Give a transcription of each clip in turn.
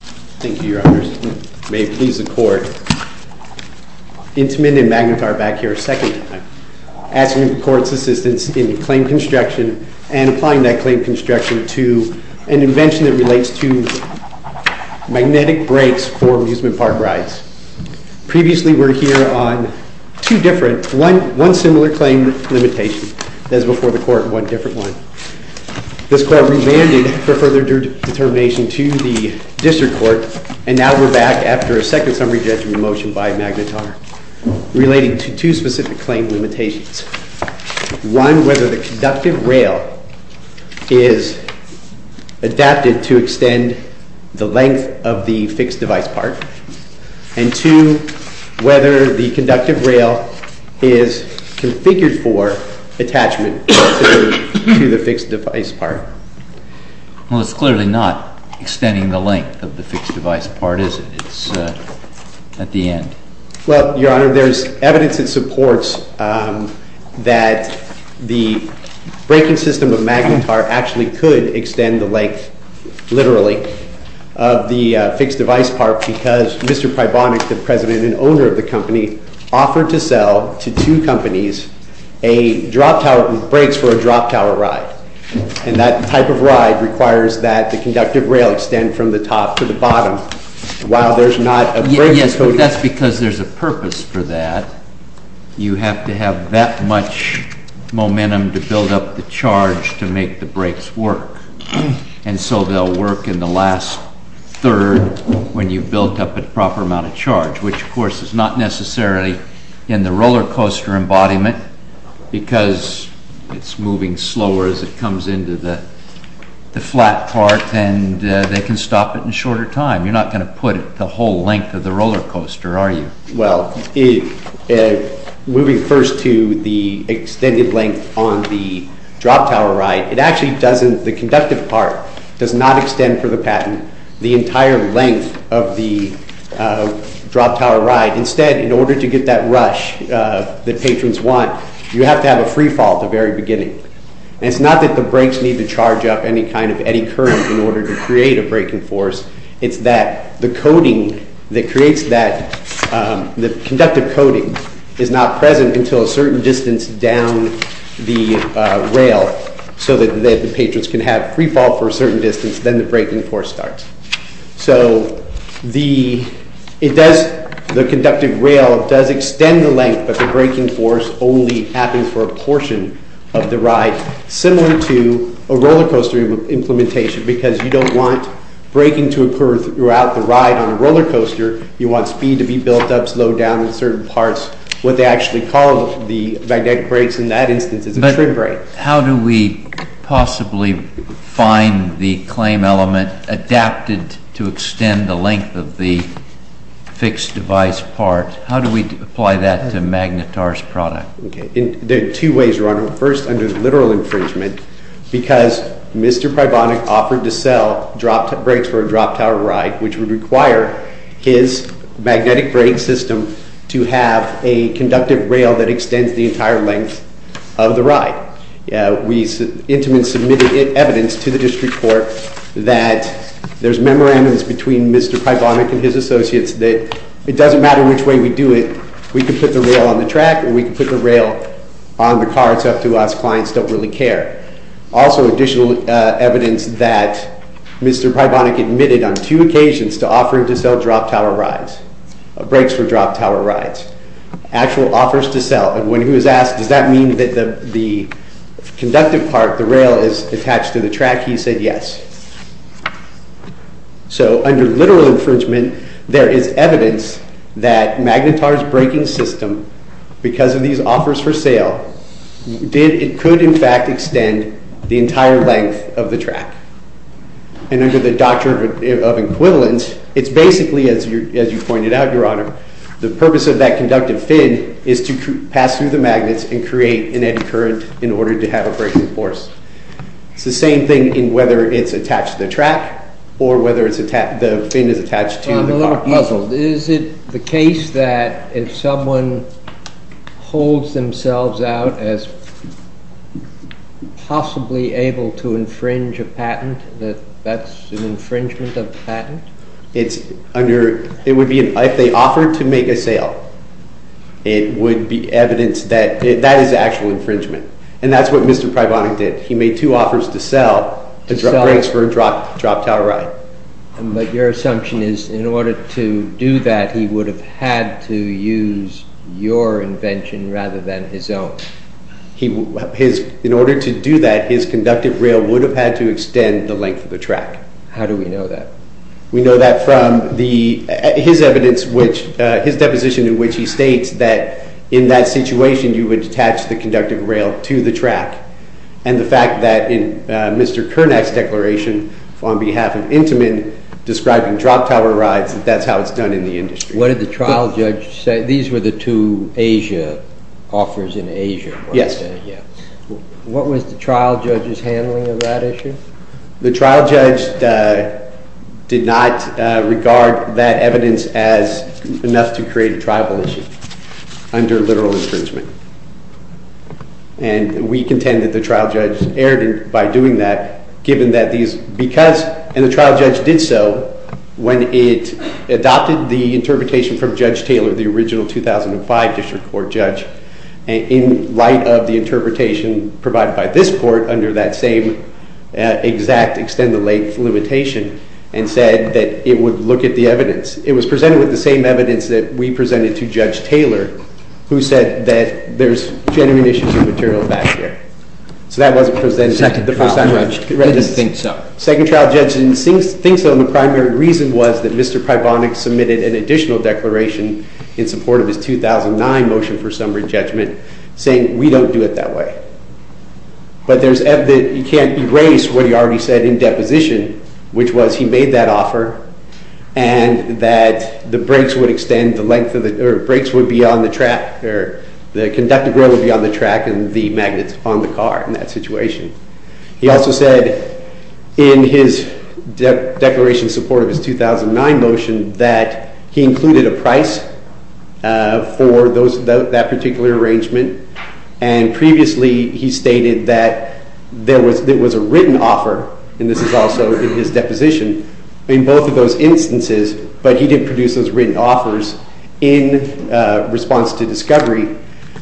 Thank you, Your Honors. May it please the Court, Intamin and Magnetar are back here a second time, asking the Court's assistance in the claim construction and applying that claim construction to an invention that relates to magnetic brakes for amusement park rides. Previously we were here on two different, one similar claim limitation, as before the Court, one different one. This Court remanded for further determination to the District Court and now we're back after a second summary judgment motion by Magnetar relating to two specific claim limitations. One, whether the conductive rail is adapted to extend the length of the fixed device part, and two, whether the conductive rail is configured for attachment to the fixed device part. Well, it's clearly not extending the length of the fixed device part, is it? It's at the end. Well, Your Honor, there's evidence that supports that the braking system of Magnetar actually could extend the length, literally, of the fixed device part because Mr. Prybonik, the President and owner of the company, offered to sell to two companies brakes for a drop tower ride, and that type of ride requires that the conductive rail extend from the top to the bottom, while there's not a braking code. Yes, but that's because there's a purpose for that. You have to have that much momentum to build up the charge to make the brakes work, and so they'll work in the last third when you've built up a proper amount of charge, which, of course, is not necessarily in the roller coaster embodiment because it's into the flat part, and they can stop it in shorter time. You're not going to put the whole length of the roller coaster, are you? Well, moving first to the extended length on the drop tower ride, it actually doesn't, the conductive part does not extend for the patent the entire length of the drop tower ride. Instead, in order to get that rush that patrons want, you have to have a free fall at the very beginning. And it's not that the brakes need to charge up any kind of eddy current in order to create a braking force, it's that the coding that creates that, the conductive coding is not present until a certain distance down the rail so that the patrons can have free fall for a certain distance, then the braking force starts. So the, it does, the conductive rail does extend the length, but the braking force only happens for a portion of the ride, similar to a roller coaster implementation because you don't want braking to occur throughout the ride on a roller coaster. You want speed to be built up, slowed down in certain parts. What they actually call the magnetic brakes in that instance is a trim brake. But how do we possibly find the claim element adapted to extend the length of the fixed device part? How do we apply that to Magnetar's product? Okay. There are two ways, Your Honor. First, under the literal infringement, because Mr. Prybonik offered to sell brakes for a drop tower ride, which would require his magnetic brake system to have a conductive rail that extends the entire length of the ride. We intimately submitted evidence to the district court that there's memorandums between Mr. Prybonik and his client that if we do it, we can put the rail on the track or we can put the rail on the car. It's up to us. Clients don't really care. Also, additional evidence that Mr. Prybonik admitted on two occasions to offering to sell drop tower rides, brakes for drop tower rides, actual offers to sell. And when he was asked, does that mean that the conductive part, the rail, is attached to the track, he said yes. So under literal infringement, there is evidence that Magnetar's braking system, because of these offers for sale, it could in fact extend the entire length of the track. And under the doctrine of equivalence, it's basically, as you pointed out, Your Honor, the purpose of that conductive fin is to pass through the magnets and create an eddy current in order to have a braking force. It's the same thing in whether it's attached to the track or whether the fin is attached to the car. Is it the case that if someone holds themselves out as possibly able to infringe a patent, that that's an infringement of the patent? It's under, it would be, if they offered to make a sale, it would be evidence that that is actual infringement. And that's what Mr. Prybonik did. He made two offers to sell brakes for a drop tower ride. But your assumption is in order to do that, he would have had to use your invention rather than his own. In order to do that, his conductive rail would have had to extend the length of the track. How do we know that? We know that from his evidence, his deposition in which he states that in that situation, you would attach the conductive rail to the track. And the fact that in Mr. Kernack's declaration on behalf of Intamin, describing drop tower rides, that's how it's done in the industry. What did the trial judge say? These were the two Asia offers in Asia. Yes. What was the trial judge's handling of that issue? The trial judge did not regard that evidence as enough to create a tribal issue under literal infringement. And we contend that the trial judge erred by doing that, given that these, because, and the trial judge did so when it adopted the interpretation from Judge Taylor, the original 2005 district court judge, in light of the interpretation provided by this court under that same exact extend the length limitation, and said that it would look at the evidence. It was presented with the same evidence that we presented to Judge Taylor, who said that there's genuine issues of material back there. So that wasn't presented the first time. The second trial judge didn't think so. Second trial judge didn't think so, and the primary reason was that Mr. Pribonik submitted an additional declaration in support of his 2009 motion for summary judgment, saying we don't do it that way. But there's evidence that you can't erase what he already said in deposition, which was he made that offer, and that the brakes would extend the length of the, or brakes would be on the track, or the conductive rail would be on the track, and the magnets on the car in that situation. He also said in his declaration in support of his 2009 motion that he included a price for that particular arrangement, and previously he stated that there was a written offer, and this is also in his deposition, in both of those instances, but he didn't produce those written offers in response to discovery,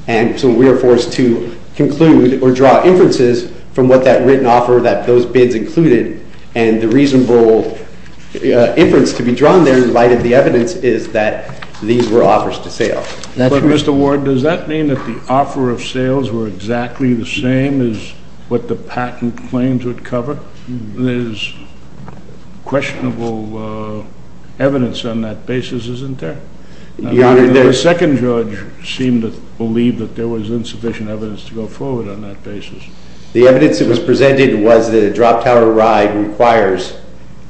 and so we are forced to conclude or draw inferences from what that written offer, that those bids included, and the reasonable inference to be drawn there in light of the evidence is that these were offers to sale. That's right. But, Mr. Ward, does that mean that the offer of sales were exactly the same as what the patent claims would cover? There's questionable evidence on that basis, isn't there? Your Honor, the... seemed to believe that there was insufficient evidence to go forward on that basis. The evidence that was presented was that a drop tower ride requires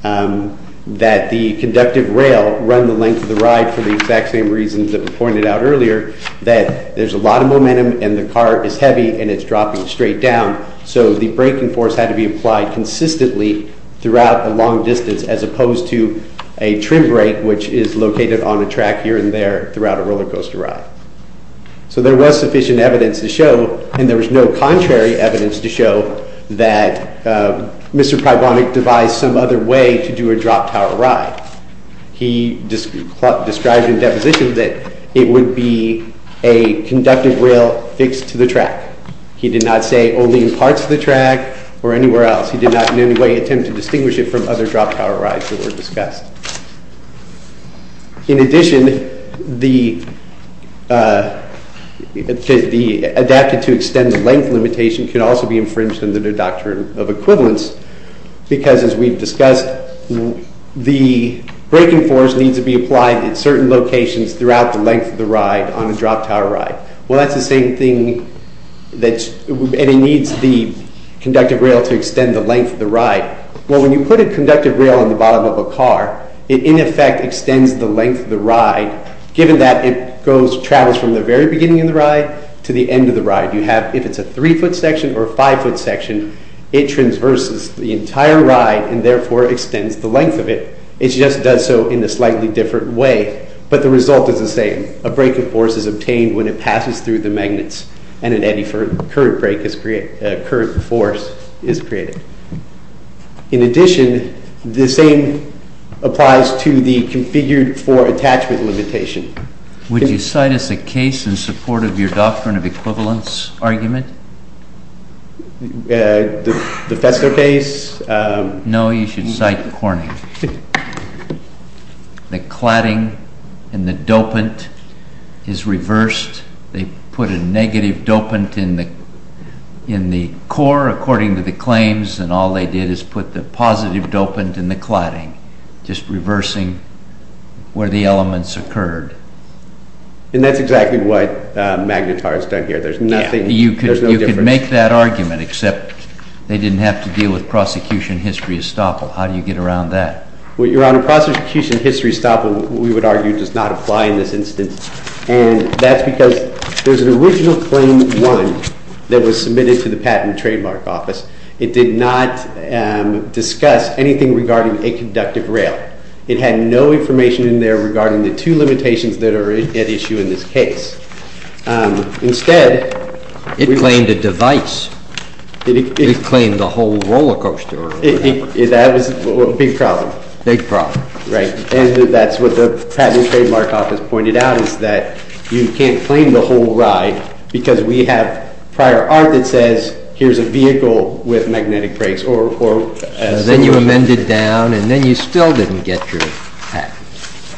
that the conductive rail run the length of the ride for the exact same reasons that were pointed out earlier, that there's a lot of momentum, and the car is heavy, and it's dropping straight down, so the braking force had to be applied consistently throughout the long distance, as opposed to a trim brake, which is located on a track here and there throughout a roller coaster ride. So there was sufficient evidence to show, and there was no contrary evidence to show, that Mr. Prybonik devised some other way to do a drop tower ride. He described in deposition that it would be a conductive rail fixed to the track. He did not say only in parts of the track or anywhere else. He did not in any way attempt to distinguish it from other drop tower rides that were discussed. In addition, the adapted to extend the length limitation can also be infringed under the doctrine of equivalence, because as we've discussed, the braking force needs to be applied in certain locations throughout the length of the ride on a drop tower ride. Well, that's the same thing that's, and it needs the conductive rail to extend the length of the ride. Well, when you put a conductive rail on the bottom of a car, it, in effect, extends the length of the ride, given that it travels from the very beginning of the ride to the end of the ride. You have, if it's a three-foot section or a five-foot section, it transverses the entire ride and therefore extends the length of it. It just does so in a slightly different way, but the result is the same. A braking force is obtained when it passes through the magnets, and an eddy for a current force is created. In addition, the same applies to the configured for attachment limitation. Would you cite as a case in support of your doctrine of equivalence argument? The Fester case? No, you should cite Corning. The cladding in the dopant is reversed. They put a negative dopant in the core, according to the claims, and all they did is put the positive dopant in the cladding, just reversing where the elements occurred. And that's exactly what Magnetar has done here. There's nothing, there's no difference. You could make that argument, except they didn't have to deal with prosecution history estoppel. How do you get around that? Well, Your Honor, prosecution history estoppel, we would argue, does not apply in this instance, and that's because there's an original claim one that was submitted to the patent and trademark office. It did not discuss anything regarding a conductive rail. It had no information in there regarding the two limitations that are at issue in this case. Instead... It claimed a device. It claimed the whole roller coaster. That was a big problem. Big problem. Right. And that's what the patent and trademark office pointed out, is that you can't claim the whole ride because we have prior art that says, here's a vehicle with magnetic brakes, or then you amended down and then you still didn't get your patent.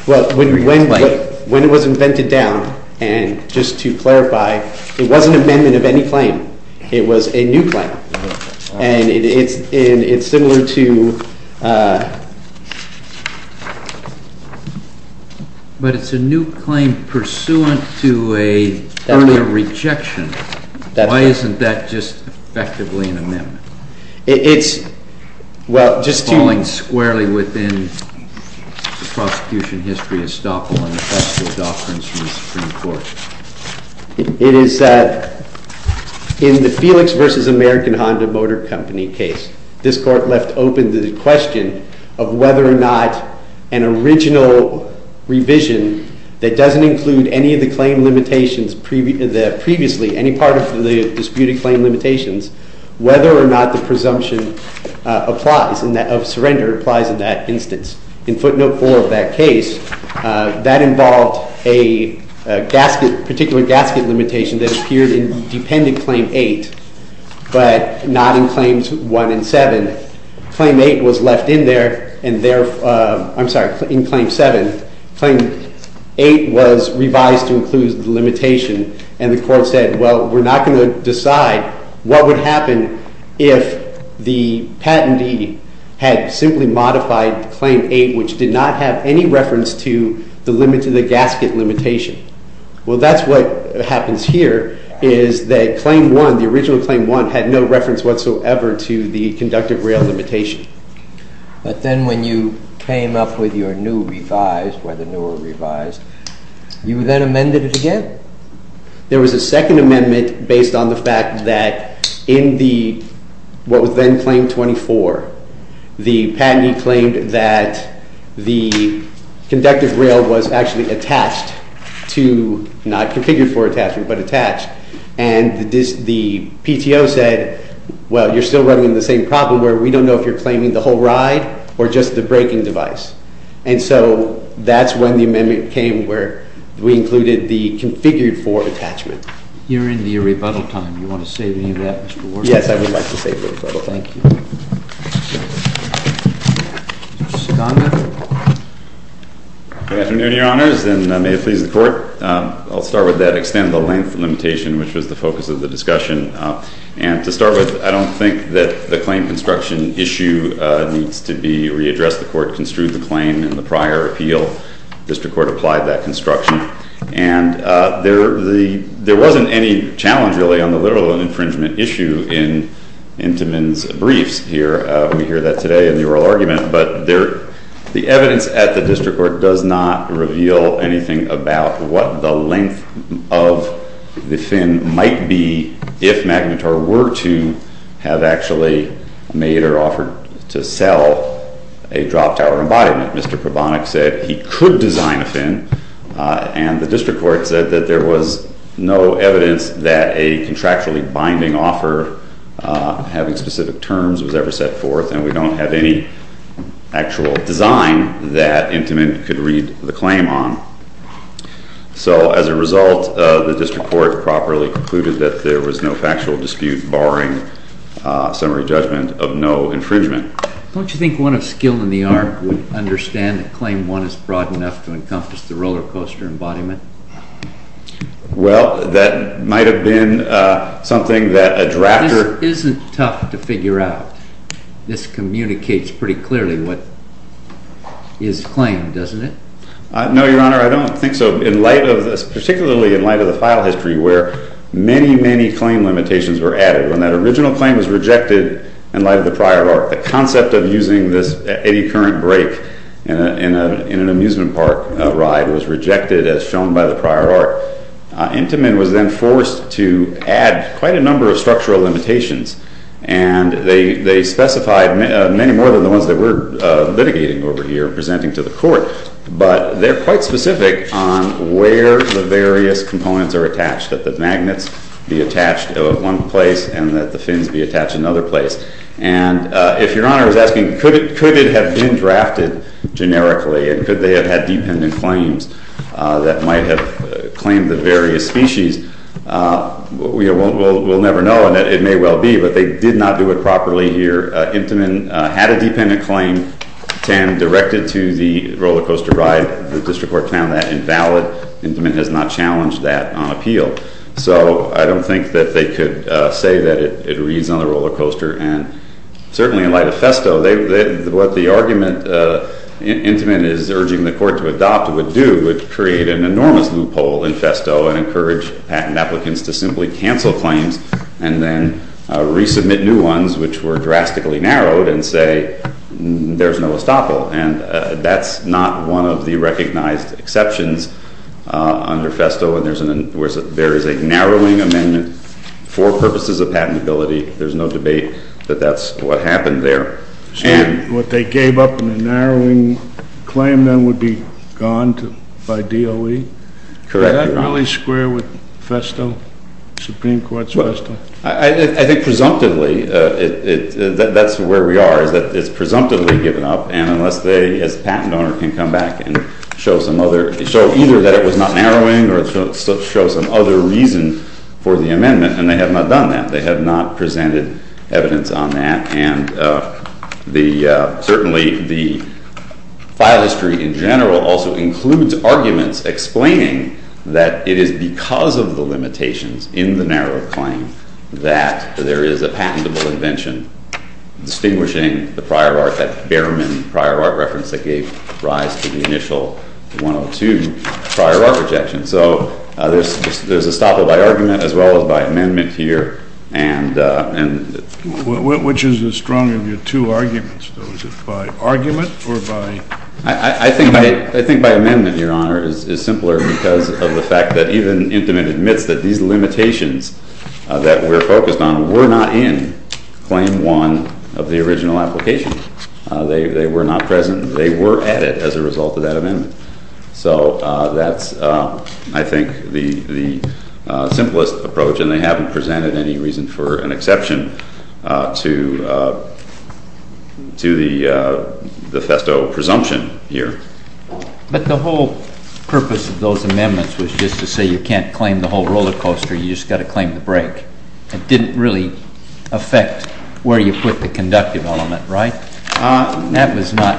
Well, when it was invented down, and just to clarify, it was an amendment of any claim. It was a new claim and it's similar to... But it's a new claim pursuant to a permanent rejection. Why isn't that just effectively an amendment? It's... Well, just to... It's falling squarely within the prosecution history of Estoppel and the factual doctrines from the Supreme Court. It is that in the Felix versus American Honda Motor Company case, this court left open the question of whether or not an original revision that doesn't include any of the claim limitations previously, any part of the disputed claim limitations, whether or not the presumption of surrender applies in that instance. In footnote 4 of that case, that involved a particular gasket limitation that appeared in dependent claim 8, but not in claims 1 and 7. Claim 8 was left in there, and therefore, I'm sorry, in claim 7, claim 8 was revised to include the limitation, and the court said, well, we're not going to decide what would happen if the patentee had simply modified claim 8, which did not have any reference to the gasket limitation. Well, that's what happens here, is that claim 1, the original claim 1, had no reference whatsoever to the conductive rail limitation. But then when you came up with your new revised, whether new or revised, you then amended it again? There was a second amendment based on the fact that in the what was then claim 24, the patentee claimed that the conductive rail was actually attached to, not configured for attachment, but attached, and the PTO said, well, you're still running the same problem, where we don't know if you're claiming the whole ride or just the braking device. And so that's when the amendment came, where we included the configured for attachment. You're in the rebuttal time. You want to say anything to that, Mr. Ward? Yes, I would like to say the rebuttal. Thank you. Mr. Segonda? Good afternoon, Your Honors, and may it please the Court. I'll start with that extended length limitation, which was the focus of the discussion, and to start with, I don't think that the claim construction issue needs to be readdressed. The Court construed the claim in the prior appeal. District Court applied that construction, and there wasn't any challenge, really, on the literal infringement issue in Intiman's briefs here. We hear that today in the oral argument, but the evidence at the District Court does not reveal anything about what the District Courts have actually made or offered to sell a drop-tower embodiment. Mr. Probonik said he could design a fin, and the District Court said that there was no evidence that a contractually binding offer, having specific terms, was ever set forth, and we don't have any actual design that Intiman could read the claim on. So as a result, the District Court properly concluded that there was no factual dispute, barring summary judgment, of no infringement. Don't you think one of skill in the art would understand that Claim 1 is broad enough to encompass the roller coaster embodiment? Well, that might have been something that a drafter- This isn't tough to figure out. This communicates pretty clearly what is claimed, doesn't it? No, Your Honor, I don't think so, particularly in light of the file history where many, many claim limitations were added. When that original claim was rejected in light of the prior art, the concept of using this eddy current break in an amusement park ride was rejected as shown by the prior art. Intiman was then forced to add quite a number of structural limitations, and they specified many more than the ones that we're litigating over here and presenting to the Court, but they're quite specific on where the various components are attached, that the magnets be attached at one place and that the fins be attached another place. And if Your Honor is asking, could it have been drafted generically, and could they have had dependent claims that might have claimed the various species, we'll never know. And it may well be, but they did not do it properly here. Intiman had a dependent claim, 10, directed to the roller coaster, and the district court found that invalid. Intiman has not challenged that on appeal. So I don't think that they could say that it reads on the roller coaster. And certainly in light of FESTO, what the argument Intiman is urging the Court to adopt would do, would create an enormous loophole in FESTO and encourage patent applicants to simply cancel claims and then resubmit new ones which were drastically narrowed and say there's no estoppel. And that's not one of the recognized exceptions under FESTO, and there is a narrowing amendment for purposes of patentability. There's no debate that that's what happened there. So what they gave up in the narrowing claim then would be gone by DOE? Correct. Does that really square with FESTO, Supreme Court's FESTO? I think presumptively, that's where we are, is that it's not narrowing unless they, as a patent owner, can come back and show some other, show either that it was not narrowing or show some other reason for the amendment. And they have not done that. They have not presented evidence on that. And certainly the file history in general also includes arguments explaining that it is because of the limitations in the narrow claim that there is a patentable invention distinguishing the prior art, that Behrman prior art reference that gave rise to the initial 102 prior art rejection. So there's estoppel by argument as well as by amendment here. And which is the strong of your two arguments though, is it by argument or by? I think by amendment, Your Honor, is simpler because of the fact that even Intimate admits that these limitations that we're focused on were not in claim one of the original application. They were not present. They were added as a result of that amendment. So that's I think the simplest approach and they haven't presented any reason for an exception to the FESTO presumption here. But the whole purpose of those amendments was just to say you can't claim the whole roller coaster. You just got to claim the break. It didn't really affect where you put the conductive element, right? That was not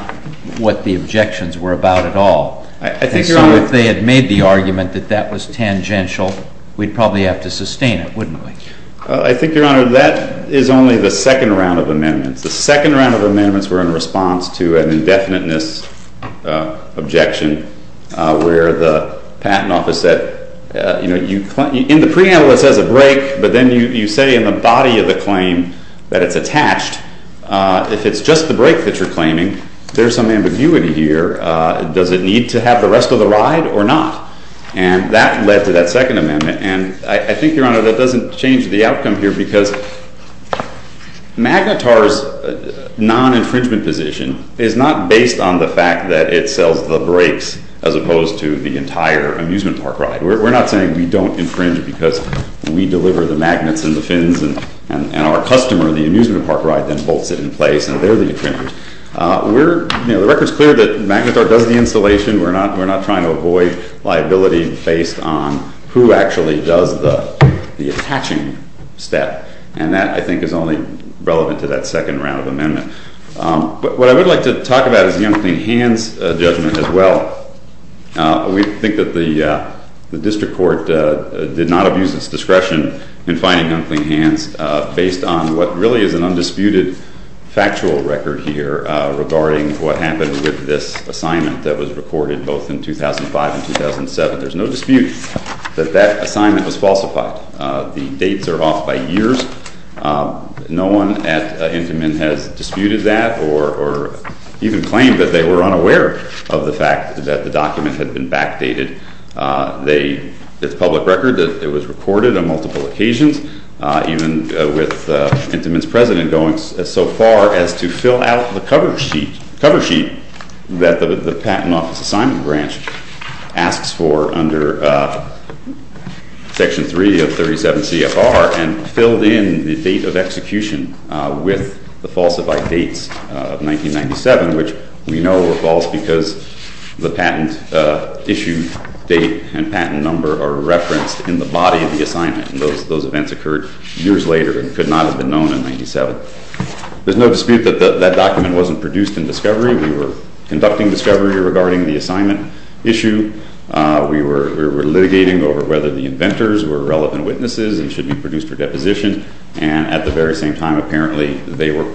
what the objections were about at all. I think if they had made the argument that that was tangential, we'd probably have to sustain it, wouldn't we? I think, Your Honor, that is only the second round of amendments. The second round of amendments were in response to an indefiniteness objection where the patent office said, you claim, in the preamble it says a break, but then you say in the body of the claim that it's attached, if it's just the break that you're claiming, there's some ambiguity here. Does it need to have the rest of the ride or not? And that led to that second amendment. And I think, Your Honor, that doesn't change the outcome here because MAGNITAR's non-infringement position is not based on the fact that it sells the breaks as opposed to the entire amusement park ride. We're not saying we don't infringe because we deliver the magnets and the fins and our customer, the amusement park ride, then bolts it in place and they're the infringers. We're, you know, the record's clear that MAGNITAR does the installation. We're not trying to avoid liability based on who actually does the attaching step. And that, I think, is only relevant to that second round of amendments. But what I would like to talk about is the unclean hands judgment as well. We think that the district court did not abuse its discretion in finding unclean hands based on what really is an undisputed factual record here regarding what happened with this assignment that was recorded both in 2005 and 2007. There's no dispute that that assignment was falsified. The dates are off by years. No one at Intamin has disputed that or even claimed that they were unaware of the fact that the document had been backdated. They, it's public record that it was recorded on multiple occasions, even with Intamin's president going so far as to fill out the cover sheet that the Patent Office Assignment Branch asks for under Section 3 of 37 CFR and filled in the date of execution with the falsified dates of 1997, which we know were false because the patent issue date and patent number are referenced in the body of the assignment. And those events occurred years later and could not have been known in 97. There's no dispute that that document wasn't produced in discovery. We were conducting discovery regarding the assignment issue. We were litigating over whether the inventors were relevant witnesses and should be produced for deposition. And at the very same time, apparently they were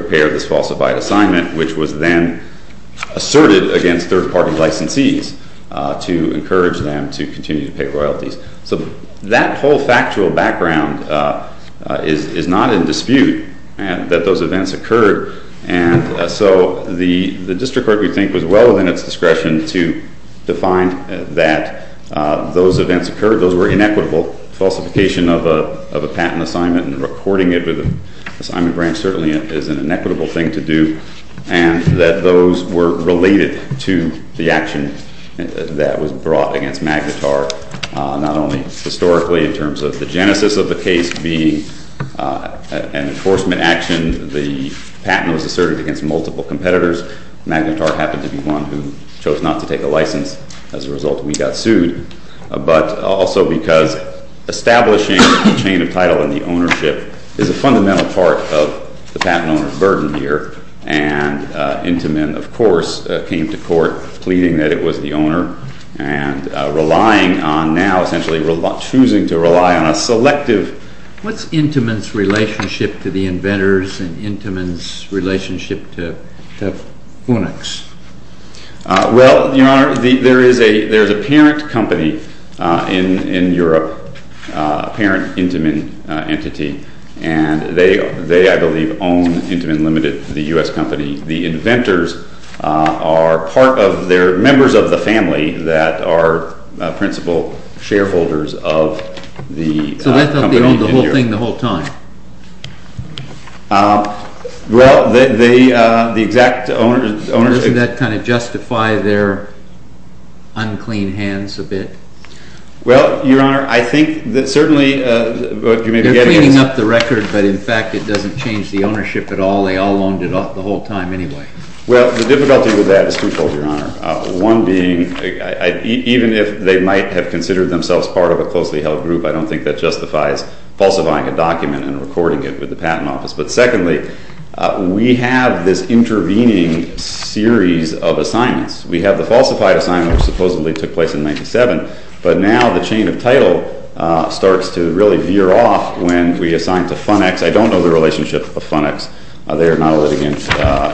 aware of this falsified assignment, which was then asserted against third party licensees to encourage them to continue to pay royalties. So that whole factual background is not in dispute that those events occurred. And so the district court, we think, was well within its discretion to define that those events occurred. Those were inequitable falsification of a patent assignment and recording it with an assignment branch certainly is an inequitable thing to do. And that those were related to the action that was brought against Magnetar, not only historically in terms of the genesis of the case being an enforcement action, the patent was asserted against multiple competitors. Magnetar happened to be one who chose not to take a license as a result we got sued, but also because establishing the chain of title and the ownership is a fundamental part of the patent owner's burden here. And Intamin, of course, came to court pleading that it was the owner and relying on now essentially choosing to rely on a selective... What's Intamin's relationship to the inventors and Intamin's relationship to Funix? I believe own Intamin Limited, the U.S. company. The inventors are part of their... members of the family that are principal shareholders of the company in New York. So they thought they owned the whole thing the whole time? Well, the exact ownership... Doesn't that kind of justify their unclean hands a bit? Well, Your Honor, I think that certainly... You're cleaning up the record, but in fact it doesn't change the ownership at all. They all owned it off the whole time anyway. Well, the difficulty with that is twofold, Your Honor, one being even if they might have considered themselves part of a closely held group, I don't think that justifies falsifying a document and recording it with the patent office. But secondly, we have this intervening series of assignments. We have the falsified assignment, which supposedly took place in 97, but now the chain of title starts to really veer off when we assign to Funix. I don't know the relationship of Funix. They are not a litigant,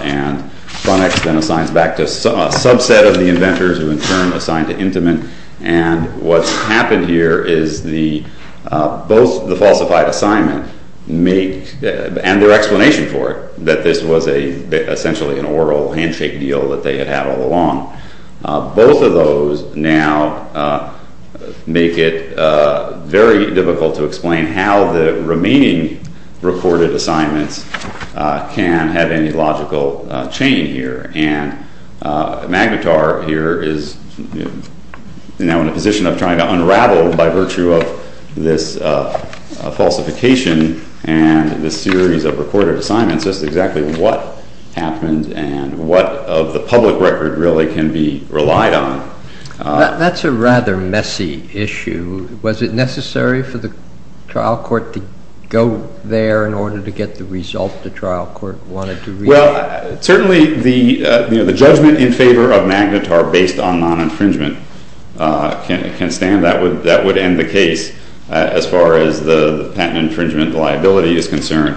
and Funix then assigns back to a subset of the inventors who in turn assigned to Intamin. And what's happened here is both the falsified assignment make, and their explanation for it, that this was essentially an oral handshake deal that they had had all along, both of those now make it very difficult to explain how the remaining recorded assignments can have any logical chain here. And Magnitar here is now in a position of trying to unravel by virtue of this falsification and this series of recorded assignments just exactly what happened and what of the public record really can be relied on. That's a rather messy issue. Was it necessary for the trial court to go there in order to get the result the trial court wanted to read? Well, certainly the judgment in favor of Magnitar based on non-infringement can stand. That would end the case as far as the patent infringement liability is concerned.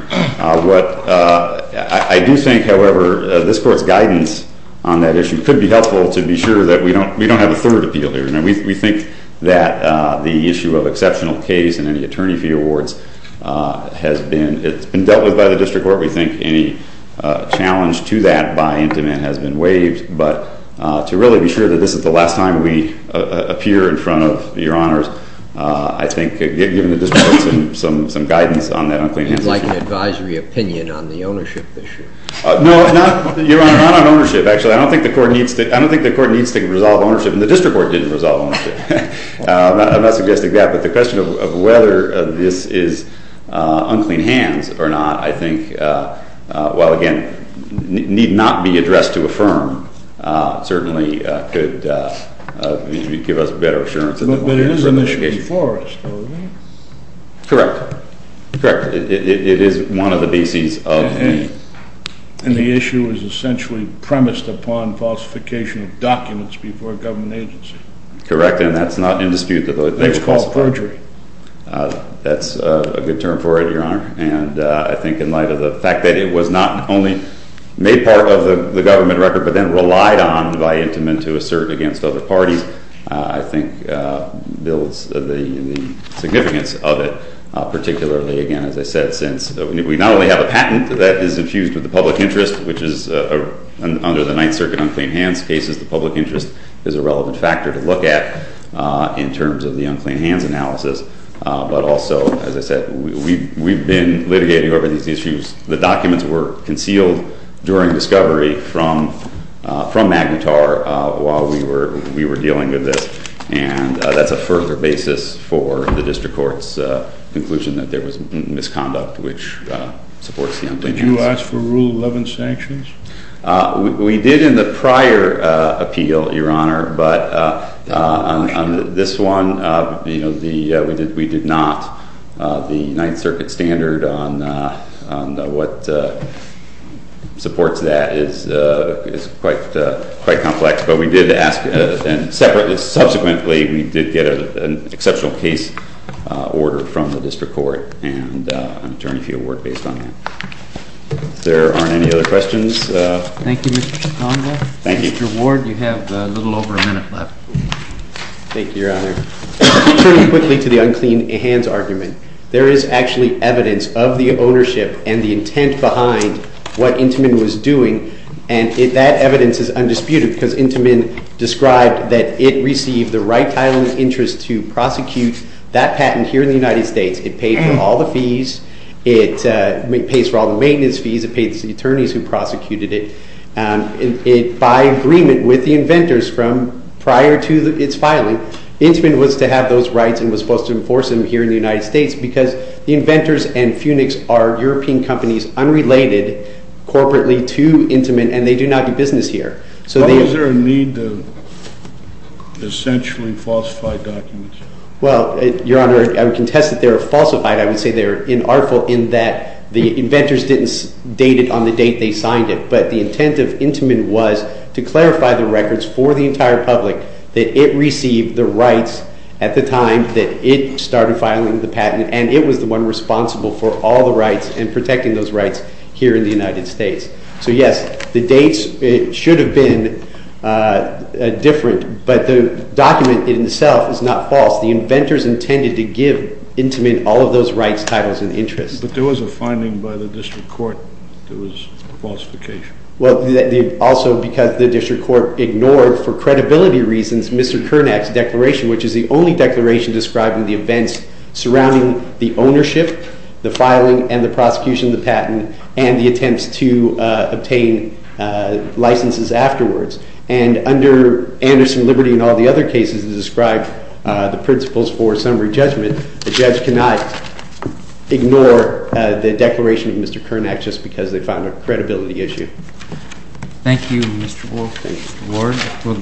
What I do think, however, this court's guidance on that issue could be helpful to be sure that we don't have a third appeal here. I mean, we think that the issue of exceptional case and any attorney fee awards has been dealt with by the district court. We think any challenge to that by Intimate has been waived. But to really be sure that this is the last time we appear in front of your honors, I think given the district court some guidance on that unclean handshake issue. Like an advisory opinion on the ownership issue? No, not on ownership, actually. I don't think the court needs to resolve ownership, and the court needs to resolve ownership. I'm not suggesting that, but the question of whether this is unclean hands or not, I think, while again, need not be addressed to a firm, certainly could give us better assurance in the long run. But it is an issue for us, though, right? Correct. Correct. It is one of the BCs of the nation. And the issue is essentially premised upon falsification of documents before a government agency. Correct. And that's not in dispute. It's called perjury. That's a good term for it, your honor. And I think in light of the fact that it was not only made part of the government record, but then relied on by Intimate to assert against other parties, I think builds the significance of it, particularly, again, as I said, since we not only have a patent that is infused with the public interest, which is under the Ninth Circuit unclean hands cases, the public interest is a direct threat in terms of the unclean hands analysis, but also, as I said, we've been litigating over these issues. The documents were concealed during discovery from Magnetar while we were dealing with this, and that's a further basis for the district court's conclusion that there was misconduct, which supports the unclean hands. Did you ask for Rule 11 sanctions? We did in the prior appeal, your honor, but on this one, you know, we did not. The Ninth Circuit standard on what supports that is quite complex, but we did ask, and subsequently, we did get an exceptional case order from the district court and an attorney field work based on that. If there aren't any other questions. Thank you, Mr. Conville. Thank you. Mr. Ward, you have a little over a minute left. Thank you, your honor. Turning quickly to the unclean hands argument, there is actually evidence of the ownership and the intent behind what Intamin was doing, and that evidence is undisputed because Intamin described that it received the right title of interest to prosecute that patent here in the United States. It paid for all the fees. It pays for all the maintenance fees. It pays the attorneys who prosecuted it. It, by agreement with the inventors from prior to its filing, Intamin was to have those rights and was supposed to enforce them here in the United States because the inventors and Funix are European companies unrelated corporately to Intamin, and they do not do business here. So is there a need to essentially falsify documents? Well, your honor, I would contest that they are falsified. I would say they are inartful in that the inventors didn't date it on the date they signed it, but the intent of Intamin was to clarify the records for the entire public that it received the rights at the time that it started filing the patent, and it was the one responsible for all the rights and protecting those rights here in the United States. So yes, the dates should have been different, but the inventors intended to give Intamin all of those rights, titles, and interests. But there was a finding by the district court that it was a falsification. Well, also because the district court ignored, for credibility reasons, Mr. Kernack's declaration, which is the only declaration describing the events surrounding the ownership, the filing, and the prosecution of the patent, and the attempts to obtain licenses afterwards. And under Anderson Liberty and all the other cases that describe the principles for summary judgment, the judge cannot ignore the declaration of Mr. Kernack just because they found a credibility issue. Thank you, Mr. Wolf. Thank you, Mr. Ward. We'll go on.